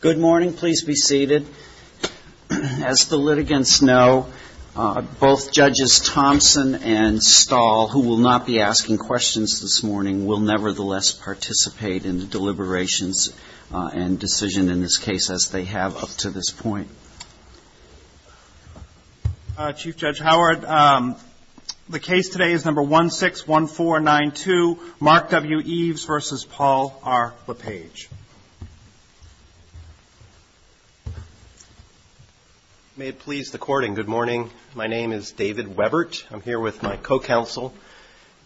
Good morning. Please be seated. As the litigants know, both Judges Thompson and Stahl, who will not be asking questions this morning, will nevertheless participate in the deliberations and decision in this case, as they have up to this point. Chief Judge Howard, the case today is No. 161492, Mark W. Eves v. Paul R. LePage. May it please the Court, and good morning. My name is David Webert. I'm here with my co-counsel,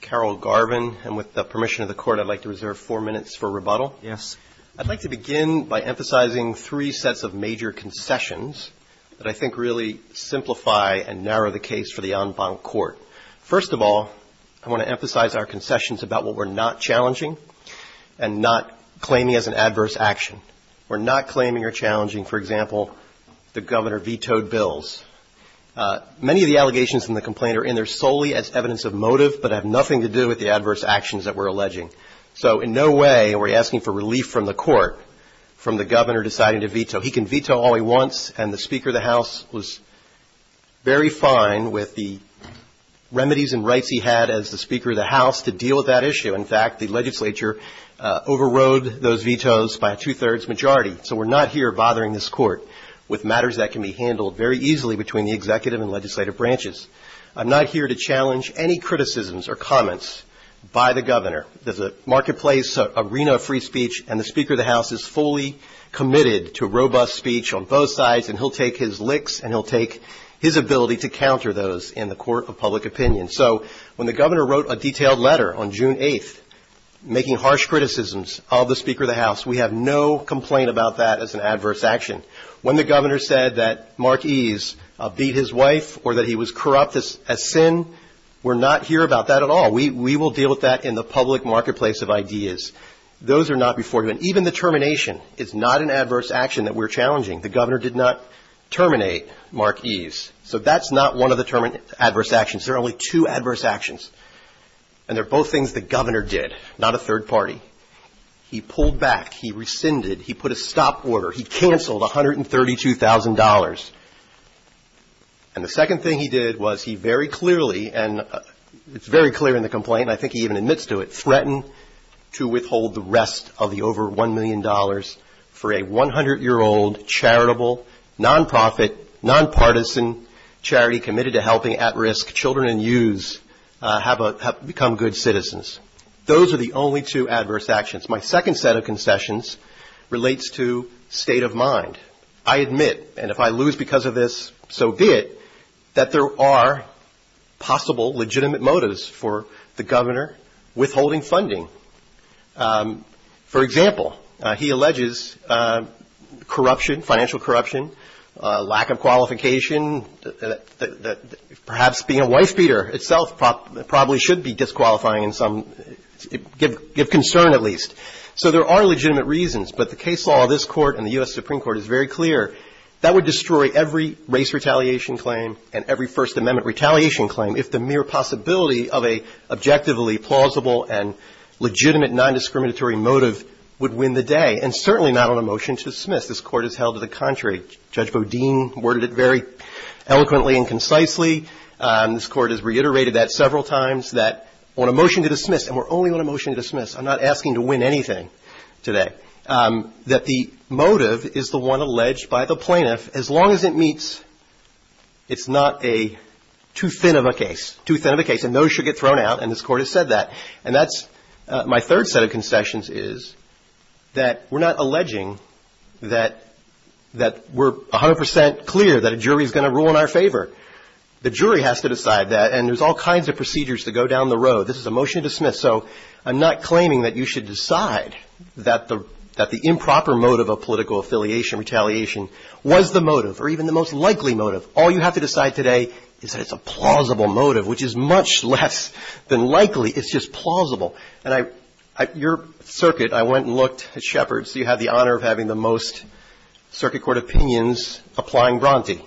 Carol Garvin. And with the permission of the Court, I'd like to reserve four minutes for rebuttal. Yes. I'd like to begin by emphasizing three sets of major concessions that I think really simplify and narrow the case for the en banc court. First of all, I want to emphasize our concessions about what we're not challenging and not claiming as an adverse action. We're not claiming or challenging, for example, the Governor vetoed bills. Many of the allegations in the complaint are in there solely as evidence of motive, but have nothing to do with the adverse actions that we're alleging. So in no way are we asking for relief from the Court from the Governor deciding to veto. He can veto all he wants, and the Speaker of the House was very fine with the remedies and rights he had as the Speaker of the House to deal with that issue. In fact, the legislature overrode those vetoes by a two-thirds majority. So we're not here bothering this Court with matters that can be handled very easily between the executive and legislative branches. I'm not here to challenge any criticisms or comments by the Governor. There's a marketplace, an arena of free speech, and the Speaker of the House is fully committed to robust speech on both sides, and he'll take his licks and he'll take his ability to counter those in the court of public opinion. So when the Governor wrote a detailed letter on June 8th making harsh criticisms of the Speaker of the House, we have no complaint about that as an adverse action. When the Governor said that Mark Ease beat his wife or that he was corrupt as sin, we're not here about that at all. We will deal with that in the public marketplace of ideas. Those are not before you, and even the termination is not an adverse action that we're challenging. The Governor did not terminate Mark Ease. So that's not one of the adverse actions. There are only two adverse actions, and they're both things the Governor did, not a third party. He pulled back. He rescinded. He put a stop order. He canceled $132,000. And the second thing he did was he very clearly, and it's very clear in the complaint, I think he even admits to it, threatened to withhold the rest of the over $1 million for a 100-year-old charitable, nonprofit, nonpartisan charity committed to helping at-risk children and youths have become good citizens. Those are the only two adverse actions. My second set of concessions relates to state of mind. I admit, and if I lose because of this, so be it, that there are possible legitimate motives for the Governor withholding funding. For example, he alleges corruption, financial corruption, lack of qualification. Perhaps being a wife-beater itself probably should be disqualifying in some, give concern at least. So there are legitimate reasons. But the case law of this Court and the U.S. Supreme Court is very clear. That would destroy every race retaliation claim and every First Amendment retaliation claim if the mere possibility of a objectively plausible and legitimate non-discriminatory motive would win the day, and certainly not on a motion to dismiss. This Court has held to the contrary. Judge Bodine worded it very eloquently and concisely. This Court has reiterated that several times, that on a motion to dismiss, and we're only on a motion to dismiss. I'm not asking to win anything today. But that the motive is the one alleged by the plaintiff, as long as it meets, it's not a too thin of a case, too thin of a case, and those should get thrown out, and this Court has said that, and that's my third set of concessions is that we're not alleging that we're 100 percent clear that a jury is going to rule in our favor. The jury has to decide that, and there's all kinds of procedures to go down the road. This is a motion to dismiss. And so I'm not claiming that you should decide that the improper motive of political affiliation, retaliation, was the motive, or even the most likely motive. All you have to decide today is that it's a plausible motive, which is much less than likely. It's just plausible. And I – your circuit, I went and looked at Shepard's. You have the honor of having the most circuit court opinions applying Bronte.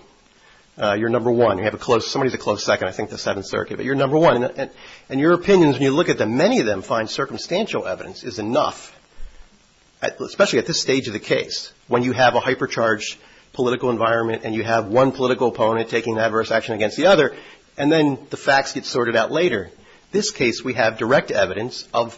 You're number one. You have a close – somebody's a close second, I think, to Seventh Circuit. But you're number one. And your opinions, when you look at them, many of them find circumstantial evidence is enough, especially at this stage of the case, when you have a hypercharged political environment and you have one political opponent taking adverse action against the other, and then the facts get sorted out later. This case, we have direct evidence of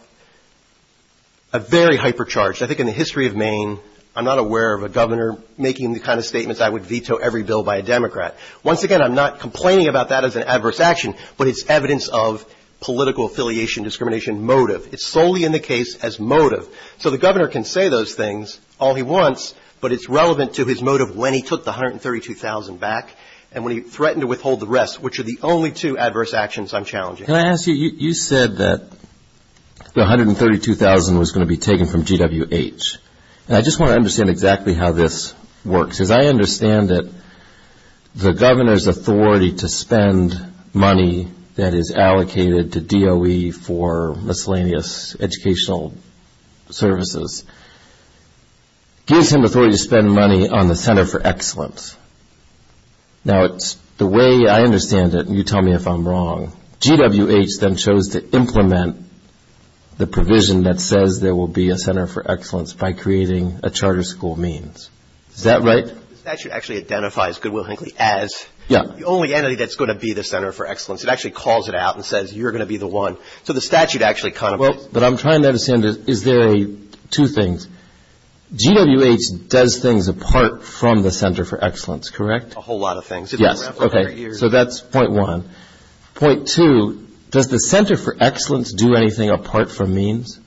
a very hypercharged. I think in the history of Maine, I'm not aware of a Governor making the kind of statements I would veto every bill by a Democrat. Once again, I'm not complaining about that as an adverse action, but it's evidence of political affiliation, discrimination, motive. It's solely in the case as motive. So the Governor can say those things all he wants, but it's relevant to his motive when he took the $132,000 back and when he threatened to withhold the rest, which are the only two adverse actions I'm challenging. Can I ask you, you said that the $132,000 was going to be taken from GWH. I just want to understand exactly how this works. Because I understand that the Governor's authority to spend money that is allocated to DOE for miscellaneous educational services gives him authority to spend money on the Center for Excellence. Now, the way I understand it, and you tell me if I'm wrong, GWH then chose to implement the provision that says there will be a Center for Excellence by creating a charter school means. Is that right? The statute actually identifies Goodwill-Hinckley as the only entity that's going to be the Center for Excellence. It actually calls it out and says, you're going to be the one. So the statute actually kind of – Well, but I'm trying to understand, is there a – two things. GWH does things apart from the Center for Excellence, correct? A whole lot of things. Yes. Okay. So that's point one. Point two, does the Center for Excellence do anything apart from means?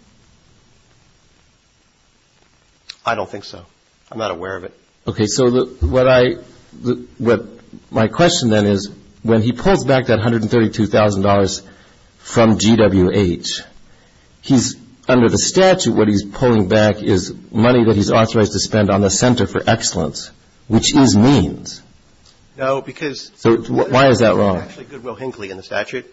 I don't think so. I'm not aware of it. Okay. So what I – what my question then is, when he pulls back that $132,000 from GWH, he's – under the statute, what he's pulling back is money that he's authorized to spend on the Center for Excellence, which is means. No, because – So why is that wrong? Because it's actually Goodwill-Hinckley in the statute.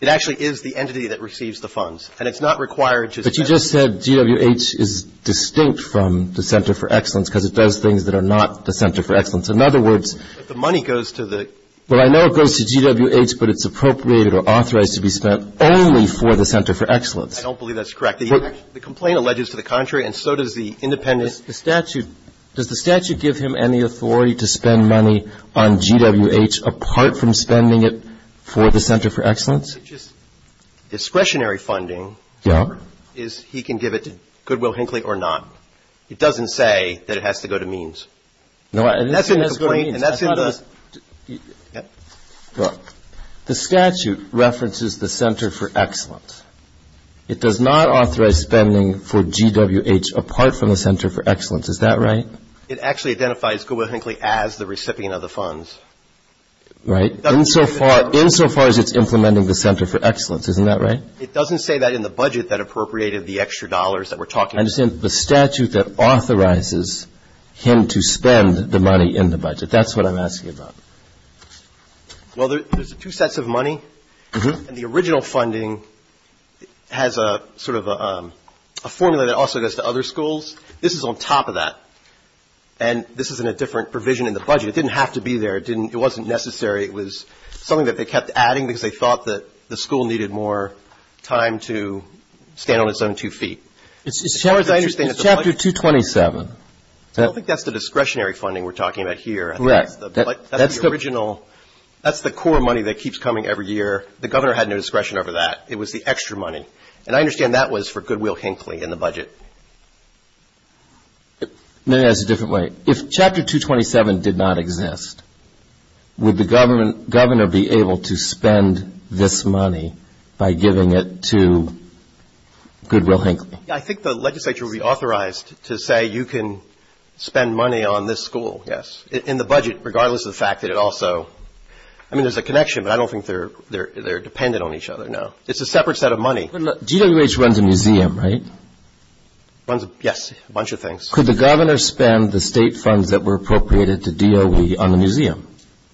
It actually is the entity that receives the funds, and it's not required to spend – But you just said GWH is distinct from the Center for Excellence because it does things that are not the Center for Excellence. In other words – But the money goes to the – Well, I know it goes to GWH, but it's appropriated or authorized to be spent only for the Center for Excellence. I don't believe that's correct. The complaint alleges to the contrary, and so does the independent – The statute – does the statute give him any authority to spend money on GWH apart from spending it for the Center for Excellence? Discretionary funding – Yeah. Is – he can give it to Goodwill-Hinckley or not. It doesn't say that it has to go to means. No, I – And that's in the complaint. And that's in the – Well, the statute references the Center for Excellence. It does not authorize spending for GWH apart from the Center for Excellence. Is that right? It actually identifies Goodwill-Hinckley as the recipient of the funds. Right. Insofar – Insofar as it's implementing the Center for Excellence. Isn't that right? It doesn't say that in the budget that appropriated the extra dollars that we're talking about. I understand. The statute that authorizes him to spend the money in the budget. That's what I'm asking about. Well, there's two sets of money. And the original funding – has a – sort of a formula that also goes to other schools. This is on top of that. And this is in a different provision in the budget. It didn't have to be there. It didn't – it wasn't necessary. It was something that they kept adding because they thought that the school needed more time to stand on its own two feet. As far as I understand – It's chapter 227. I don't think that's the discretionary funding we're talking about here. Correct. That's the original – that's the core money that keeps coming every year. The governor had no discretion over that. It was the extra money. And I understand that was for Goodwill-Hinckley in the budget. Maybe that's a different way. If chapter 227 did not exist, would the governor be able to spend this money by giving it to Goodwill-Hinckley? I think the legislature would be authorized to say you can spend money on this school. Yes. In the budget, regardless of the fact that it also – I mean, there's a connection, but I don't think they're dependent on each other. No. It's a separate set of money. GWH runs a museum, right? Runs – yes. A bunch of things. Could the governor spend the state funds that were appropriated to DOE on the museum?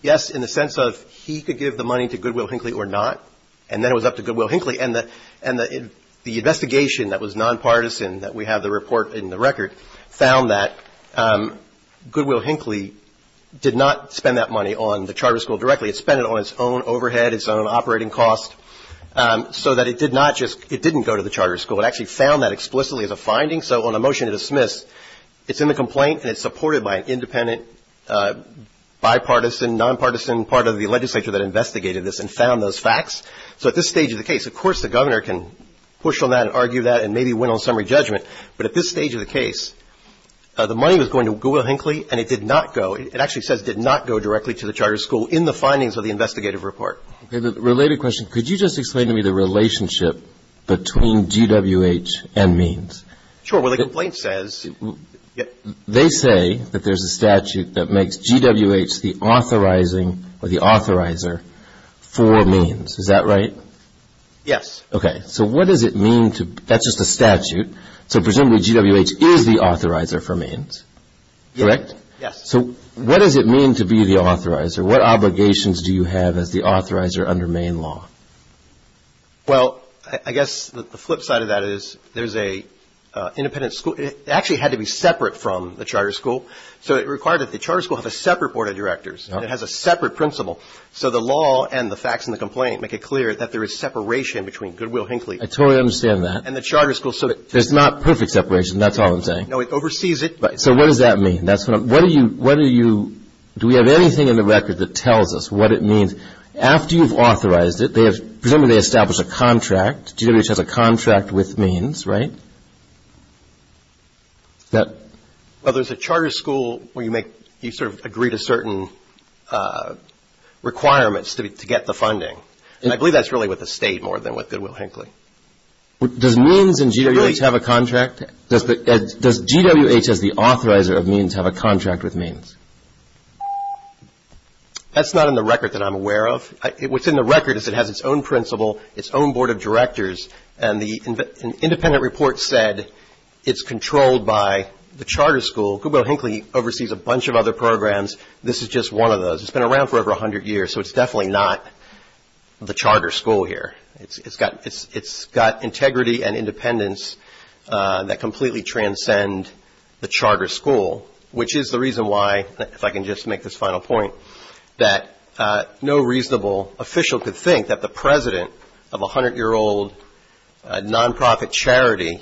Yes, in the sense of he could give the money to Goodwill-Hinckley or not. And then it was up to Goodwill-Hinckley. And the investigation that was nonpartisan that we have the report in the record found that Goodwill-Hinckley did not spend that money on the Charter School directly. It spent it on its own overhead, its own operating cost, so that it did not just – it didn't go to the Charter School. It actually found that explicitly as a finding. So on a motion to dismiss, it's in the complaint and it's supported by an independent, bipartisan, nonpartisan part of the legislature that investigated this and found those facts. So at this stage of the case, of course the governor can push on that and argue that and maybe win on summary judgment. But at this stage of the case, the money was going to Goodwill-Hinckley and it did not go – And that's what the findings of the investigative report. Okay. Related question. Could you just explain to me the relationship between GWH and MEANS? Sure. Well, the complaint says – They say that there's a statute that makes GWH the authorizing or the authorizer for MEANS. Is that right? Yes. Okay. So what does it mean to – that's just a statute. So presumably GWH is the authorizer for MEANS. Correct? Yes. So what does it mean to be the authorizer? What obligations do you have as the authorizer under MEANS law? Well, I guess the flip side of that is there's an independent – it actually had to be separate from the Charter School. So it required that the Charter School have a separate board of directors. It has a separate principal. So the law and the facts in the complaint make it clear that there is separation between Goodwill-Hinckley I totally understand that. And the Charter School – There's not perfect separation. That's all I'm saying. No, it oversees it. So what does that mean? That's what I'm – what do you – do we have anything in the record that tells us what it means? After you've authorized it, presumably they establish a contract. GWH has a contract with MEANS, right? Well, there's a Charter School where you sort of agree to certain requirements to get the funding. And I believe that's really with the State more than with Goodwill-Hinckley. Does MEANS and GWH have a contract? Does GWH, as the authorizer of MEANS, have a contract with MEANS? That's not in the record that I'm aware of. What's in the record is it has its own principal, its own board of directors, and the independent report said it's controlled by the Charter School. Goodwill-Hinckley oversees a bunch of other programs. This is just one of those. It's been around for over 100 years, so it's definitely not the Charter School here. It's got integrity and independence that completely transcend the Charter School, which is the reason why, if I can just make this final point, that no reasonable official could think that the president of a hundred-year-old nonprofit charity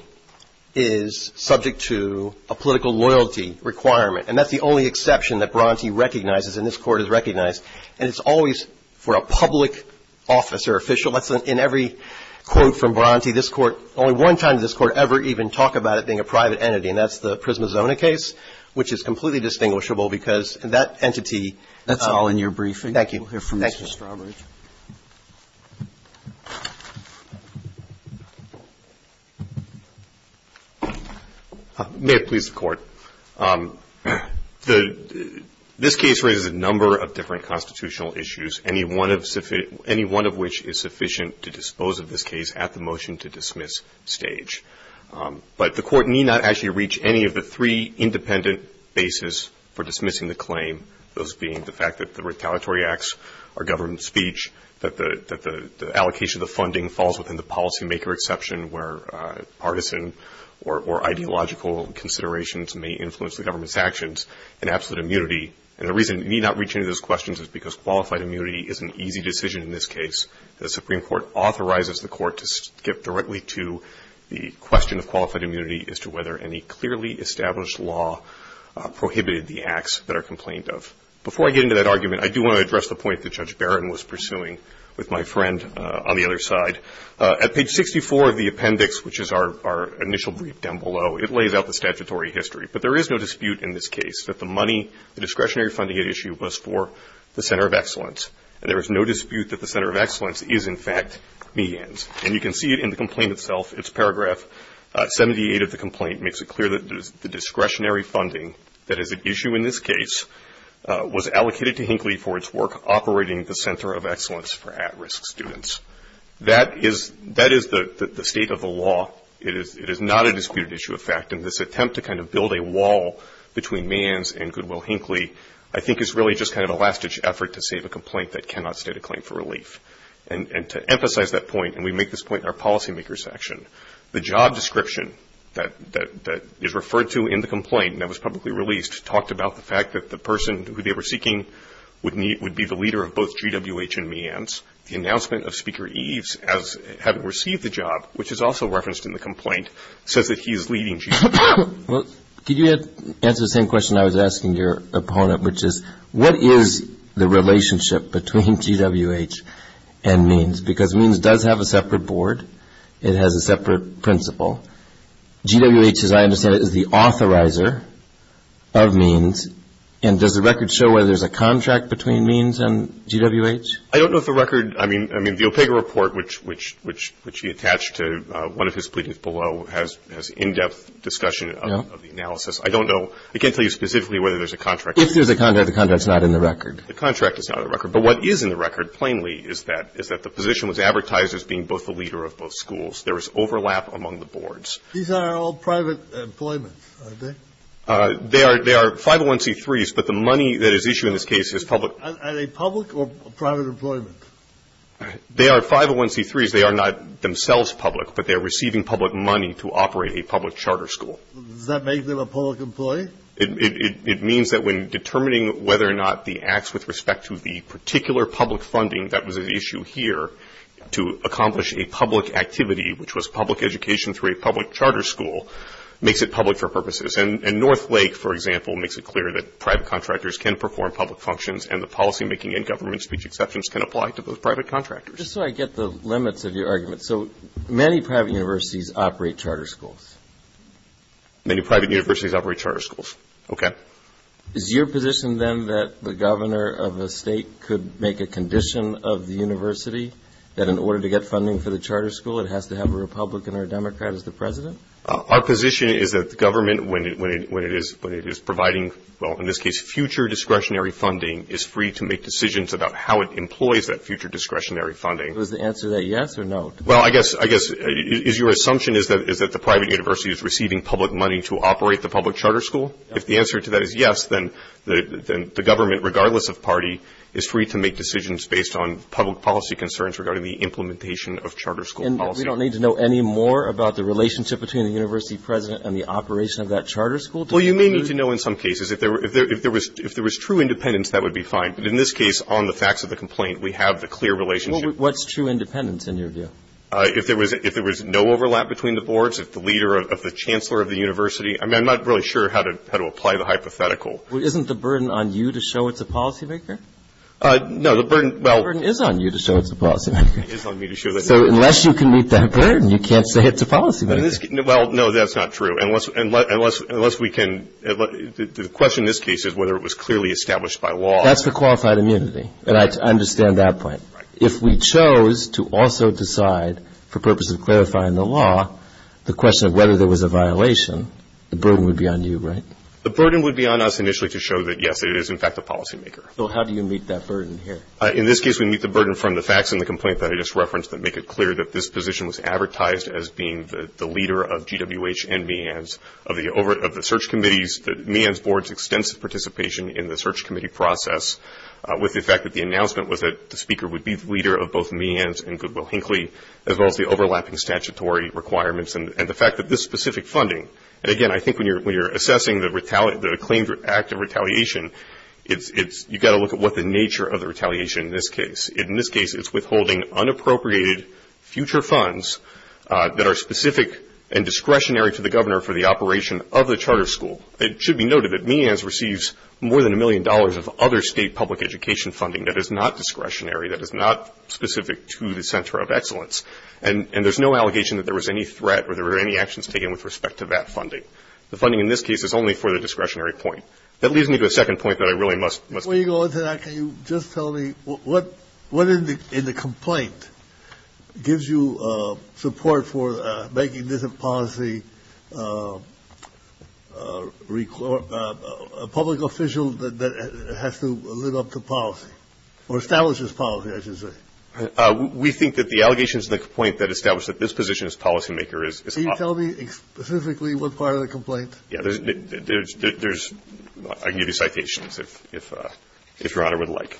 is subject to a political loyalty requirement. And that's the only exception that Bronte recognizes and this Court has recognized. And it's always for a public office or official. That's in every quote from Bronte. This Court, only one time did this Court ever even talk about it being a private entity, and that's the Prismazona case, which is completely distinguishable because that entity ---- That's all in your briefing. Thank you. Thank you, Mr. Auberage. May it please the Court. This case raises a number of different constitutional issues, any one of which is sufficient to dispose of this case at the motion-to-dismiss stage. But the Court need not actually reach any of the three independent bases for dismissing the claim, those being the fact that the retaliatory acts are government speech, that the allocation of the funding falls within the policymaker exception where partisan or ideological considerations may influence the government's actions, and absolute immunity. And the reason we need not reach into those questions is because qualified immunity is an easy decision in this case. The Supreme Court authorizes the Court to skip directly to the question of qualified immunity as to whether any clearly established law prohibited the acts that are complained of. Before I get into that argument, I do want to address the point that Judge Barron was pursuing with my friend on the other side. At page 64 of the appendix, which is our initial brief down below, it lays out the statutory history. But there is no dispute in this case that the money, the discretionary funding at issue was for the Center of Excellence. And there is no dispute that the Center of Excellence is, in fact, medians. And you can see it in the complaint itself. It's paragraph 78 of the complaint makes it clear that the discretionary funding that is at issue in this case was allocated to Hinckley for its work operating the Center of Excellence for at-risk students. That is the state of the law. It is not a disputed issue of fact. And this attempt to kind of build a wall between meands and Goodwill-Hinckley I think is really just kind of a last-ditch effort to save a complaint that cannot state a claim for relief. And to emphasize that point, and we make this point in our policymaker's section, the job description that is referred to in the complaint and that was publicly released talked about the fact that the person who they were seeking would be the leader of both GWH and meands. The announcement of Speaker Eves as having received the job, which is also referenced in the complaint, says that he is leading GWH. Well, could you answer the same question I was asking your opponent, which is what is the relationship between GWH and meands? Because meands does have a separate board. It has a separate principal. GWH, as I understand it, is the authorizer of meands. And does the record show whether there's a contract between meands and GWH? I don't know if the record – I mean, the OPEGA report, which he attached to one of his pleadings below, has in-depth discussion of the analysis. I don't know. I can't tell you specifically whether there's a contract. If there's a contract, the contract is not in the record. The contract is not in the record. But what is in the record, plainly, is that the position was advertised as being both the leader of both schools. There is overlap among the boards. These are all private employments, aren't they? They are 501c3s, but the money that is issued in this case is public. Are they public or private employment? They are 501c3s. They are not themselves public, but they are receiving public money to operate a public charter school. Does that make them a public employee? It means that when determining whether or not the acts with respect to the particular public funding that was at issue here to accomplish a public activity, which was public education through a public charter school, makes it public for purposes. And Northlake, for example, makes it clear that private contractors can perform public functions and the policymaking and government speech exceptions can apply to those private contractors. Just so I get the limits of your argument, so many private universities operate charter schools. Many private universities operate charter schools. Okay. Is your position then that the governor of a state could make a condition of the university that in order to get funding for the charter school, it has to have a Republican or a Democrat as the president? Our position is that the government, when it is providing, well, in this case, future discretionary funding, is free to make decisions about how it employs that future discretionary funding. Is the answer to that yes or no? Well, I guess your assumption is that the private university is receiving public money to operate the public charter school. If the answer to that is yes, then the government, regardless of party, is free to make decisions based on public policy concerns regarding the implementation of charter school policy. We don't need to know any more about the relationship between the university president and the operation of that charter school? Well, you may need to know in some cases. If there was true independence, that would be fine. But in this case, on the facts of the complaint, we have the clear relationship. What's true independence in your view? If there was no overlap between the boards, if the leader of the chancellor of the university, I mean, I'm not really sure how to apply the hypothetical. Well, isn't the burden on you to show it's a policymaker? No. It is on me to show that it's a policymaker. So unless you can meet that burden, you can't say it's a policymaker. Well, no, that's not true. Unless we can, the question in this case is whether it was clearly established by law. That's the qualified immunity. And I understand that point. Right. If we chose to also decide for purposes of clarifying the law, the question of whether there was a violation, the burden would be on you, right? The burden would be on us initially to show that, yes, it is in fact a policymaker. So how do you meet that burden here? In this case, we meet the burden from the facts in the complaint that I just referenced that make it clear that this position was advertised as being the leader of GWH and MEANS, of the search committees, MEANS board's extensive participation in the search committee process, with the fact that the announcement was that the speaker would be the leader of both MEANS and Goodwill-Hinckley, as well as the overlapping statutory requirements, and the fact that this specific funding, and, again, I think when you're assessing the claimed act of retaliation, you've got to look at what the nature of the retaliation in this case. In this case, it's withholding unappropriated future funds that are specific and discretionary to the governor for the operation of the charter school. It should be noted that MEANS receives more than a million dollars of other state public education funding that is not discretionary, that is not specific to the Center of Excellence, and there's no allegation that there was any threat or there were any actions taken with respect to that funding. The funding in this case is only for the discretionary point. That leads me to a second point that I really must make. Before you go into that, can you just tell me what in the complaint gives you support for making this a policy, a public official that has to live up to policy, or establishes policy, I should say? We think that the allegations in the complaint that establish that this position is policymaker is off. Can you tell me specifically what part of the complaint? Yeah. There's – I can give you citations if Your Honor would like.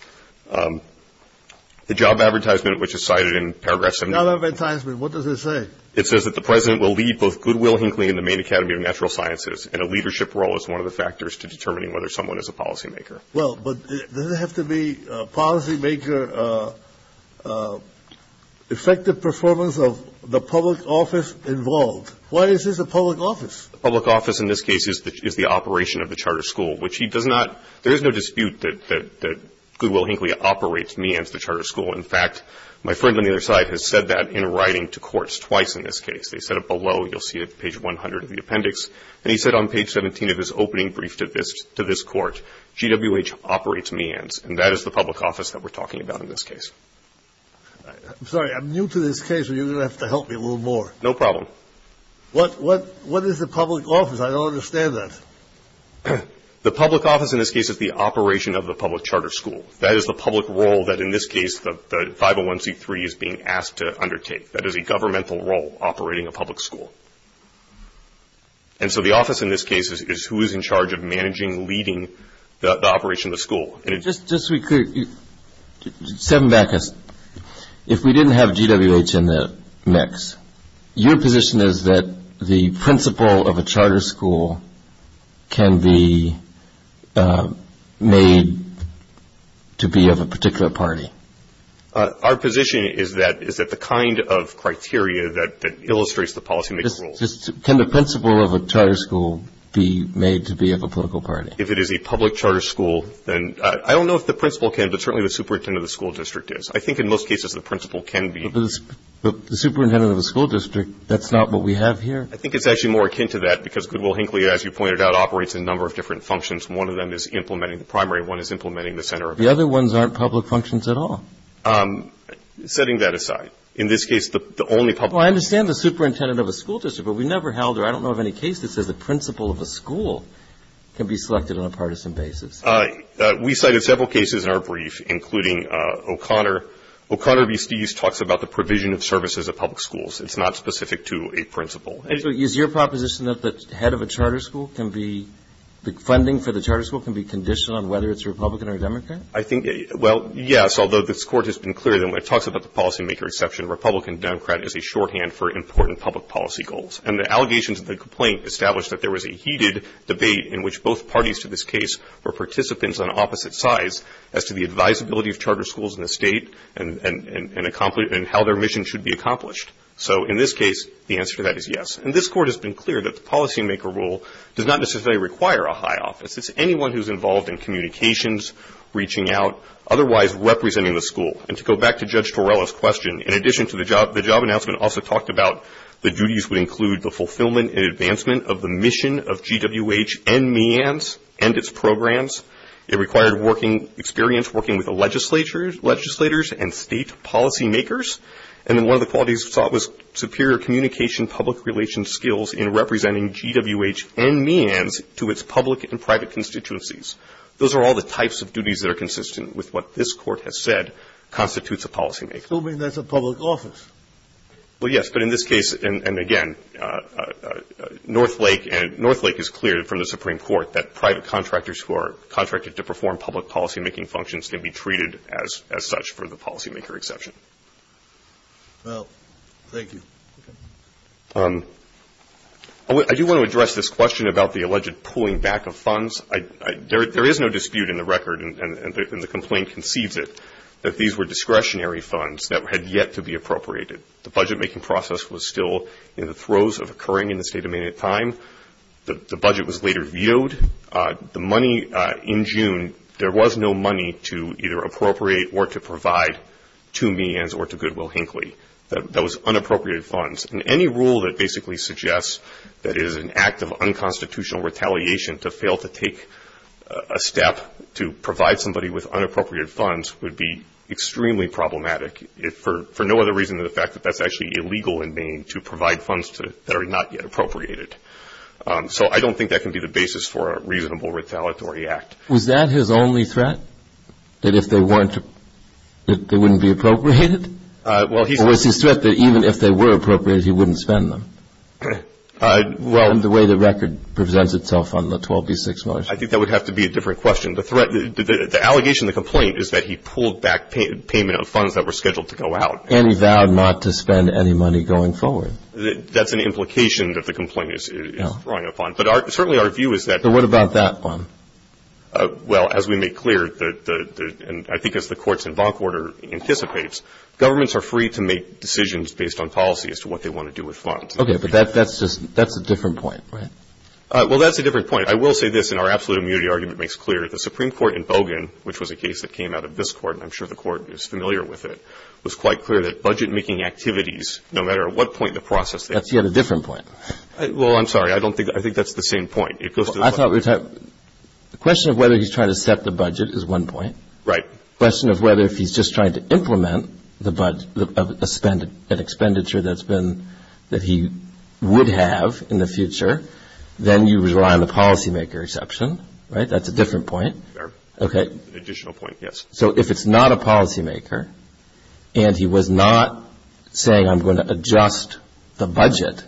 The job advertisement, which is cited in paragraph 17. Job advertisement. What does it say? It says that the President will lead both Goodwill, Hinkley, and the Maine Academy of Natural Sciences in a leadership role as one of the factors to determining whether someone is a policymaker. Well, but does it have to be policymaker, effective performance of the public office involved? Why is this a public office? The public office in this case is the operation of the charter school, which he does not – there is no dispute that Goodwill, Hinkley operates MEANS, the charter school. In fact, my friend on the other side has said that in writing to courts twice in this case. They said it below. You'll see it at page 100 of the appendix. And he said on page 17 of his opening brief to this court, GWH operates MEANS, and that is the public office that we're talking about in this case. I'm sorry. I'm new to this case, so you're going to have to help me a little more. No problem. What is the public office? I don't understand that. The public office in this case is the operation of the public charter school. That is the public role that in this case the 501c3 is being asked to undertake. That is a governmental role operating a public school. And so the office in this case is who is in charge of managing, leading the operation of the school. Just so we clear, seven backers, if we didn't have GWH in the mix, your position is that the principal of a charter school can be made to be of a particular party? Our position is that it's the kind of criteria that illustrates the policymaker's role. Can the principal of a charter school be made to be of a political party? If it is a public charter school, then I don't know if the principal can, but certainly the superintendent of the school district is. I think in most cases the principal can be. But the superintendent of the school district, that's not what we have here. I think it's actually more akin to that, because Goodwill-Hinckley, as you pointed out, operates in a number of different functions. One of them is implementing the primary. One is implementing the center of it. The other ones aren't public functions at all. Setting that aside, in this case the only public one is the superintendent of a school district. But we never held, or I don't know of any case that says the principal of a school can be selected on a partisan basis. We cited several cases in our brief, including O'Connor. O'Connor v. Steeves talks about the provision of services at public schools. It's not specific to a principal. Is your proposition that the head of a charter school can be the funding for the charter school can be conditioned on whether it's Republican or Democrat? I think, well, yes, although this Court has been clear that when it talks about the policymaker exception, the Republican-Democrat is a shorthand for important public policy goals. And the allegations of the complaint established that there was a heated debate in which both parties to this case were participants on opposite sides as to the advisability of charter schools in the State and how their mission should be accomplished. So in this case, the answer to that is yes. And this Court has been clear that the policymaker rule does not necessarily require a high office. It's anyone who's involved in communications, reaching out, otherwise representing the school. And to go back to Judge Torello's question, in addition to the job, the job announcement also talked about the duties would include the fulfillment and advancement of the mission of GWH and MEANS and its programs. It required working experience, working with the legislators and State policymakers. And then one of the qualities sought was superior communication public relations skills in representing GWH and MEANS to its public and private constituencies. Those are all the types of duties that are consistent with what this Court has said constitutes a policymaker. Scalia, that's a public office. Well, yes. But in this case, and again, Northlake is clear from the Supreme Court that private contractors who are contracted to perform public policymaking functions can be treated as such for the policymaker exception. Well, thank you. I do want to address this question about the alleged pulling back of funds. There is no dispute in the record, and the complaint concedes it, that these were discretionary funds that had yet to be appropriated. The budget-making process was still in the throes of occurring in the State of Maine at the time. The budget was later vetoed. The money in June, there was no money to either appropriate or to provide to MEANS or to Goodwill-Hinckley. That was unappropriated funds. And any rule that basically suggests that it is an act of unconstitutional retaliation to fail to take a step to provide somebody with unappropriated funds would be extremely problematic, for no other reason than the fact that that's actually illegal in Maine to provide funds that are not yet appropriated. So I don't think that can be the basis for a reasonable retaliatory act. Was that his only threat, that if they weren't, that they wouldn't be appropriated? Or was his threat that even if they were appropriated, he wouldn't spend them? Well the way the record presents itself on the 12b-6 motion. I think that would have to be a different question. The threat, the allegation in the complaint is that he pulled back payment of funds that were scheduled to go out. And he vowed not to spend any money going forward. That's an implication that the complaint is throwing upon. But certainly our view is that. But what about that one? Well, as we make clear, and I think as the courts in bonk order anticipates, governments are free to make decisions based on policy as to what they want to do with funds. Okay. But that's just, that's a different point, right? Well, that's a different point. I will say this, and our absolute immunity argument makes clear. The Supreme Court in Bogan, which was a case that came out of this Court, and I'm sure the Court is familiar with it, was quite clear that budget-making activities, no matter at what point in the process. That's yet a different point. Well, I'm sorry. I don't think, I think that's the same point. The question of whether he's trying to set the budget is one point. Right. The question of whether if he's just trying to implement the budget, an expenditure that's been, that he would have in the future, then you rely on the policymaker exception, right? That's a different point. Fair. Okay. An additional point, yes. So if it's not a policymaker, and he was not saying I'm going to adjust the budget,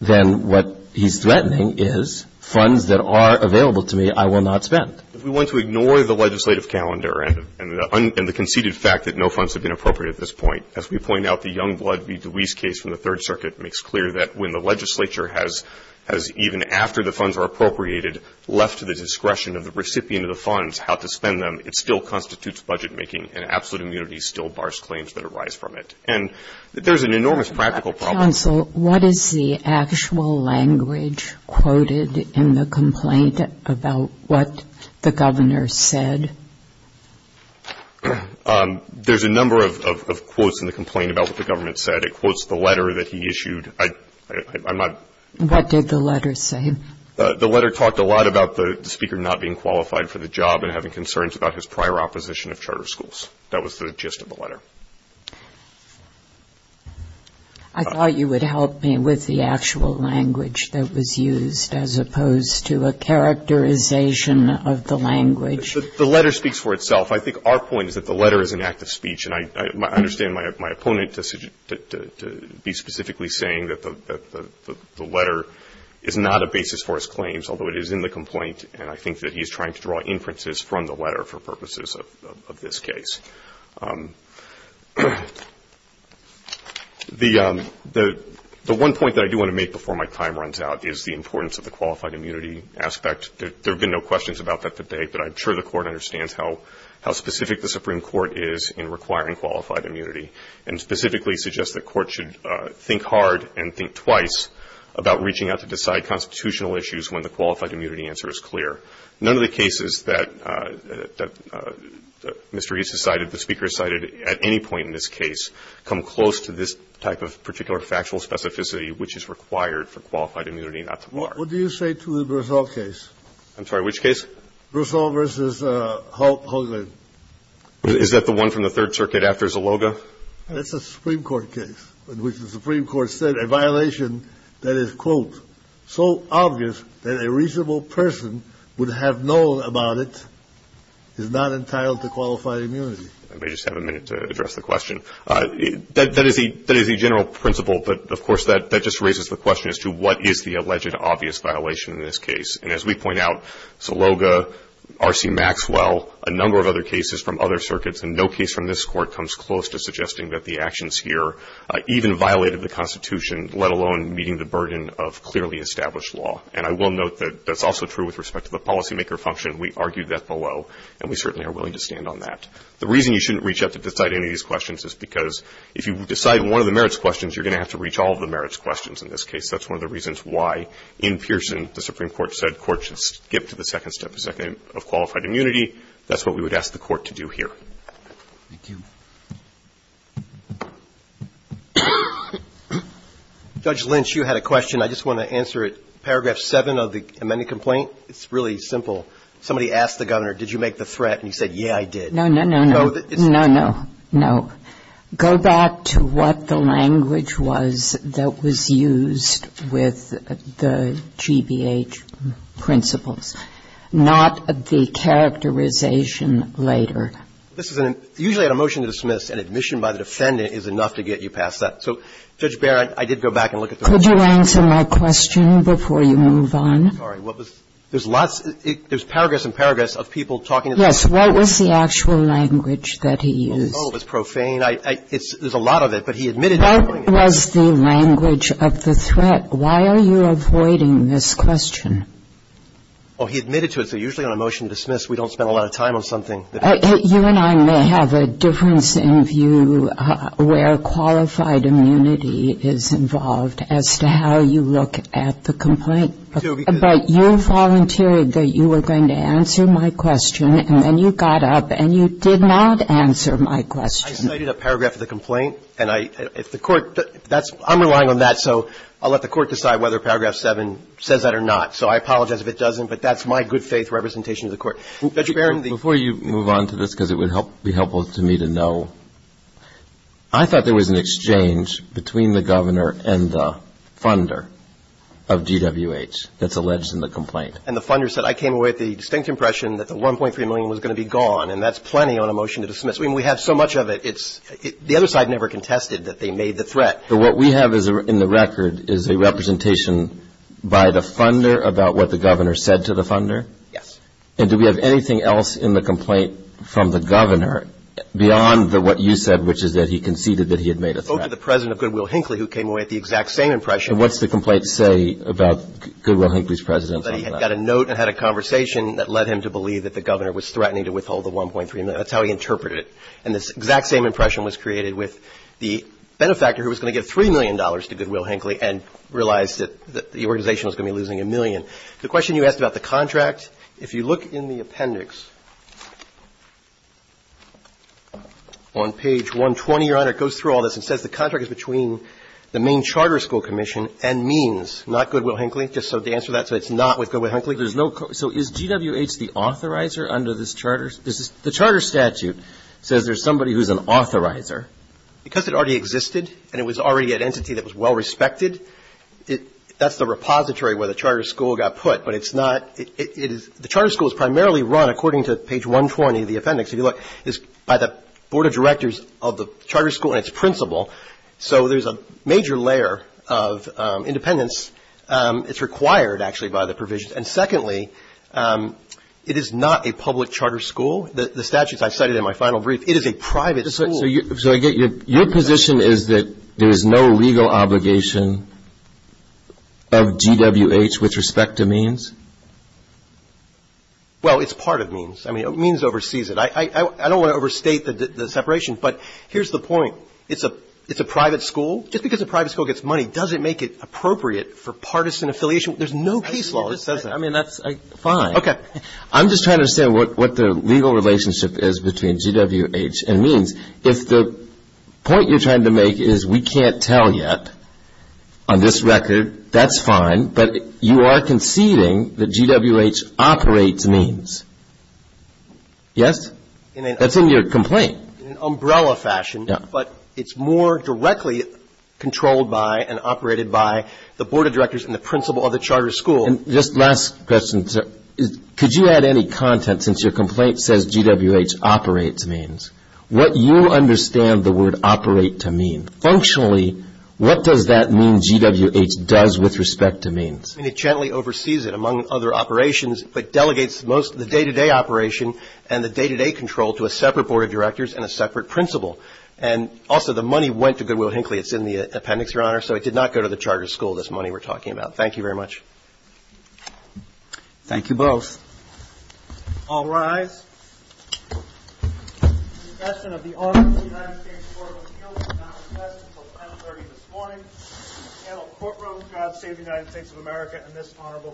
then what he's threatening is funds that are available to me, I will not spend. If we want to ignore the legislative calendar, and the conceited fact that no funds have been appropriated at this point, as we point out the Youngblood v. DeWeese case from the Third Circuit makes clear that when the legislature has, even after the funds are appropriated, left to the discretion of the recipient of the funds how to spend them, it still constitutes budget-making, and absolute immunity still bars claims that arise from it. And there's an enormous practical problem. Counsel, what is the actual language quoted in the complaint about what the governor said? There's a number of quotes in the complaint about what the government said. It quotes the letter that he issued. What did the letter say? The letter talked a lot about the speaker not being qualified for the job and having concerns about his prior opposition of charter schools. That was the gist of the letter. I thought you would help me with the actual language that was used, as opposed to a characterization of the language. The letter speaks for itself. I think our point is that the letter is an act of speech, and I understand my opponent to be specifically saying that the letter is not a basis for his claims, although it is in the complaint, and I think that he's trying to draw inferences from the letter for purposes of this case. The one point that I do want to make before my time runs out is the importance of the qualified immunity aspect. There have been no questions about that today, but I'm sure the Court understands how specific the Supreme Court is in requiring qualified immunity, and specifically suggests the Court should think hard and think twice about reaching out to decide constitutional issues when the qualified immunity answer is clear. None of the cases that Mr. Hughes has cited, the speaker has cited at any point in this case, come close to this type of particular factual specificity which is required for qualified immunity not to bar. What do you say to the Brousseau case? I'm sorry. Which case? Brousseau v. Hoagland. Is that the one from the Third Circuit after Zaloga? That's a Supreme Court case in which the Supreme Court said a violation that is, quote, so obvious that a reasonable person would have known about it is not entitled to qualified immunity. Let me just have a minute to address the question. That is the general principle, but of course that just raises the question as to what is the alleged obvious violation in this case. And as we point out, Zaloga, R.C. Maxwell, a number of other cases from other circuits, and no case from this Court comes close to suggesting that the actions here even violated the Constitution, let alone meeting the burden of clearly established law. And I will note that that's also true with respect to the policymaker function. We argued that below, and we certainly are willing to stand on that. The reason you shouldn't reach out to decide any of these questions is because if you decide one of the merits questions, you're going to have to reach all of the merits questions in this case. That's one of the reasons why in Pearson the Supreme Court said courts should skip to the second step of qualified immunity. That's what we would ask the Court to do here. Thank you. Roberts. Judge Lynch, you had a question. I just want to answer it. Paragraph 7 of the amended complaint, it's really simple. Somebody asked the Governor, did you make the threat, and he said, yeah, I did. No, no, no, no. No, no, no. Go back to what the language was that was used with the GBH principles, not the characterization later. Usually on a motion to dismiss, an admission by the defendant is enough to get you past that. So, Judge Barrett, I did go back and look at the language. Could you answer my question before you move on? I'm sorry. What was the question? There's paragraphs and paragraphs of people talking at the same time. Yes. What was the actual language that he used? Well, it was profane. There's a lot of it, but he admitted not knowing it. What was the language of the threat? Why are you avoiding this question? Oh, he admitted to it. So usually on a motion to dismiss, we don't spend a lot of time on something that we don't know. You and I may have a difference in view where qualified immunity is involved as to how you look at the complaint. But you volunteered that you were going to answer my question, and then you got up and you did not answer my question. I cited a paragraph of the complaint, and I – if the Court – that's – I'm relying on that, so I'll let the Court decide whether paragraph 7 says that or not. So I apologize if it doesn't, but that's my good faith representation of the Court. Before you move on to this, because it would be helpful to me to know, I thought there was an exchange between the governor and the funder of GWH that's alleged in the complaint. And the funder said, I came away with the distinct impression that the $1.3 million was going to be gone, and that's plenty on a motion to dismiss. I mean, we have so much of it, it's – the other side never contested that they made the threat. But what we have in the record is a representation by the funder about what the governor said to the funder? Yes. And do we have anything else in the complaint from the governor beyond the – what you said, which is that he conceded that he had made a threat? Both to the president of Goodwill-Hinckley, who came away with the exact same impression. And what's the complaint say about Goodwill-Hinckley's presidency on that? That he had got a note and had a conversation that led him to believe that the governor was threatening to withhold the $1.3 million. That's how he interpreted it. And this exact same impression was created with the benefactor who was going to give $3 million to Goodwill-Hinckley and realized that the organization was going to be losing a million. The question you asked about the contract, if you look in the appendix on page 120, Your Honor, it goes through all this and says the contract is between the main charter school commission and means, not Goodwill-Hinckley, just so to answer that, so it's not with Goodwill-Hinckley. There's no – so is GWH the authorizer under this charter? The charter statute says there's somebody who's an authorizer. Because it already existed and it was already an entity that was well respected, that's the repository where the charter school got put. But it's not – it is – the charter school is primarily run, according to page 120 of the appendix. If you look, it's by the board of directors of the charter school and its principal. So there's a major layer of independence. It's required, actually, by the provisions. And secondly, it is not a public charter school. The statutes I cited in my final brief, it is a private school. So your position is that there is no legal obligation of GWH with respect to means? Well, it's part of means. I mean, means oversees it. I don't want to overstate the separation, but here's the point. It's a private school. Just because a private school gets money doesn't make it appropriate for partisan affiliation. There's no case law that says that. I mean, that's fine. Okay. I'm just trying to understand what the legal relationship is between GWH and means. If the point you're trying to make is we can't tell yet on this record, that's fine. But you are conceding that GWH operates means. Yes? That's in your complaint. In an umbrella fashion. Yeah. But it's more directly controlled by and operated by the board of directors and the principal of the charter school. And just last question. Could you add any content since your complaint says GWH operates means? What you understand the word operate to mean. Functionally, what does that mean GWH does with respect to means? I mean, it gently oversees it, among other operations, but delegates most of the day-to-day operation and the day-to-day control to a separate board of directors and a separate principal. And also, the money went to Goodwill Hinckley. It's in the appendix, Your Honor. So it did not go to the charter school, this money we're talking about. Thank you very much. Thank you both. All rise. The discussion of the August United States Court of Appeals is not recessed until 1030 this morning. The panel of courtrooms, God save the United States of America in this honorable court.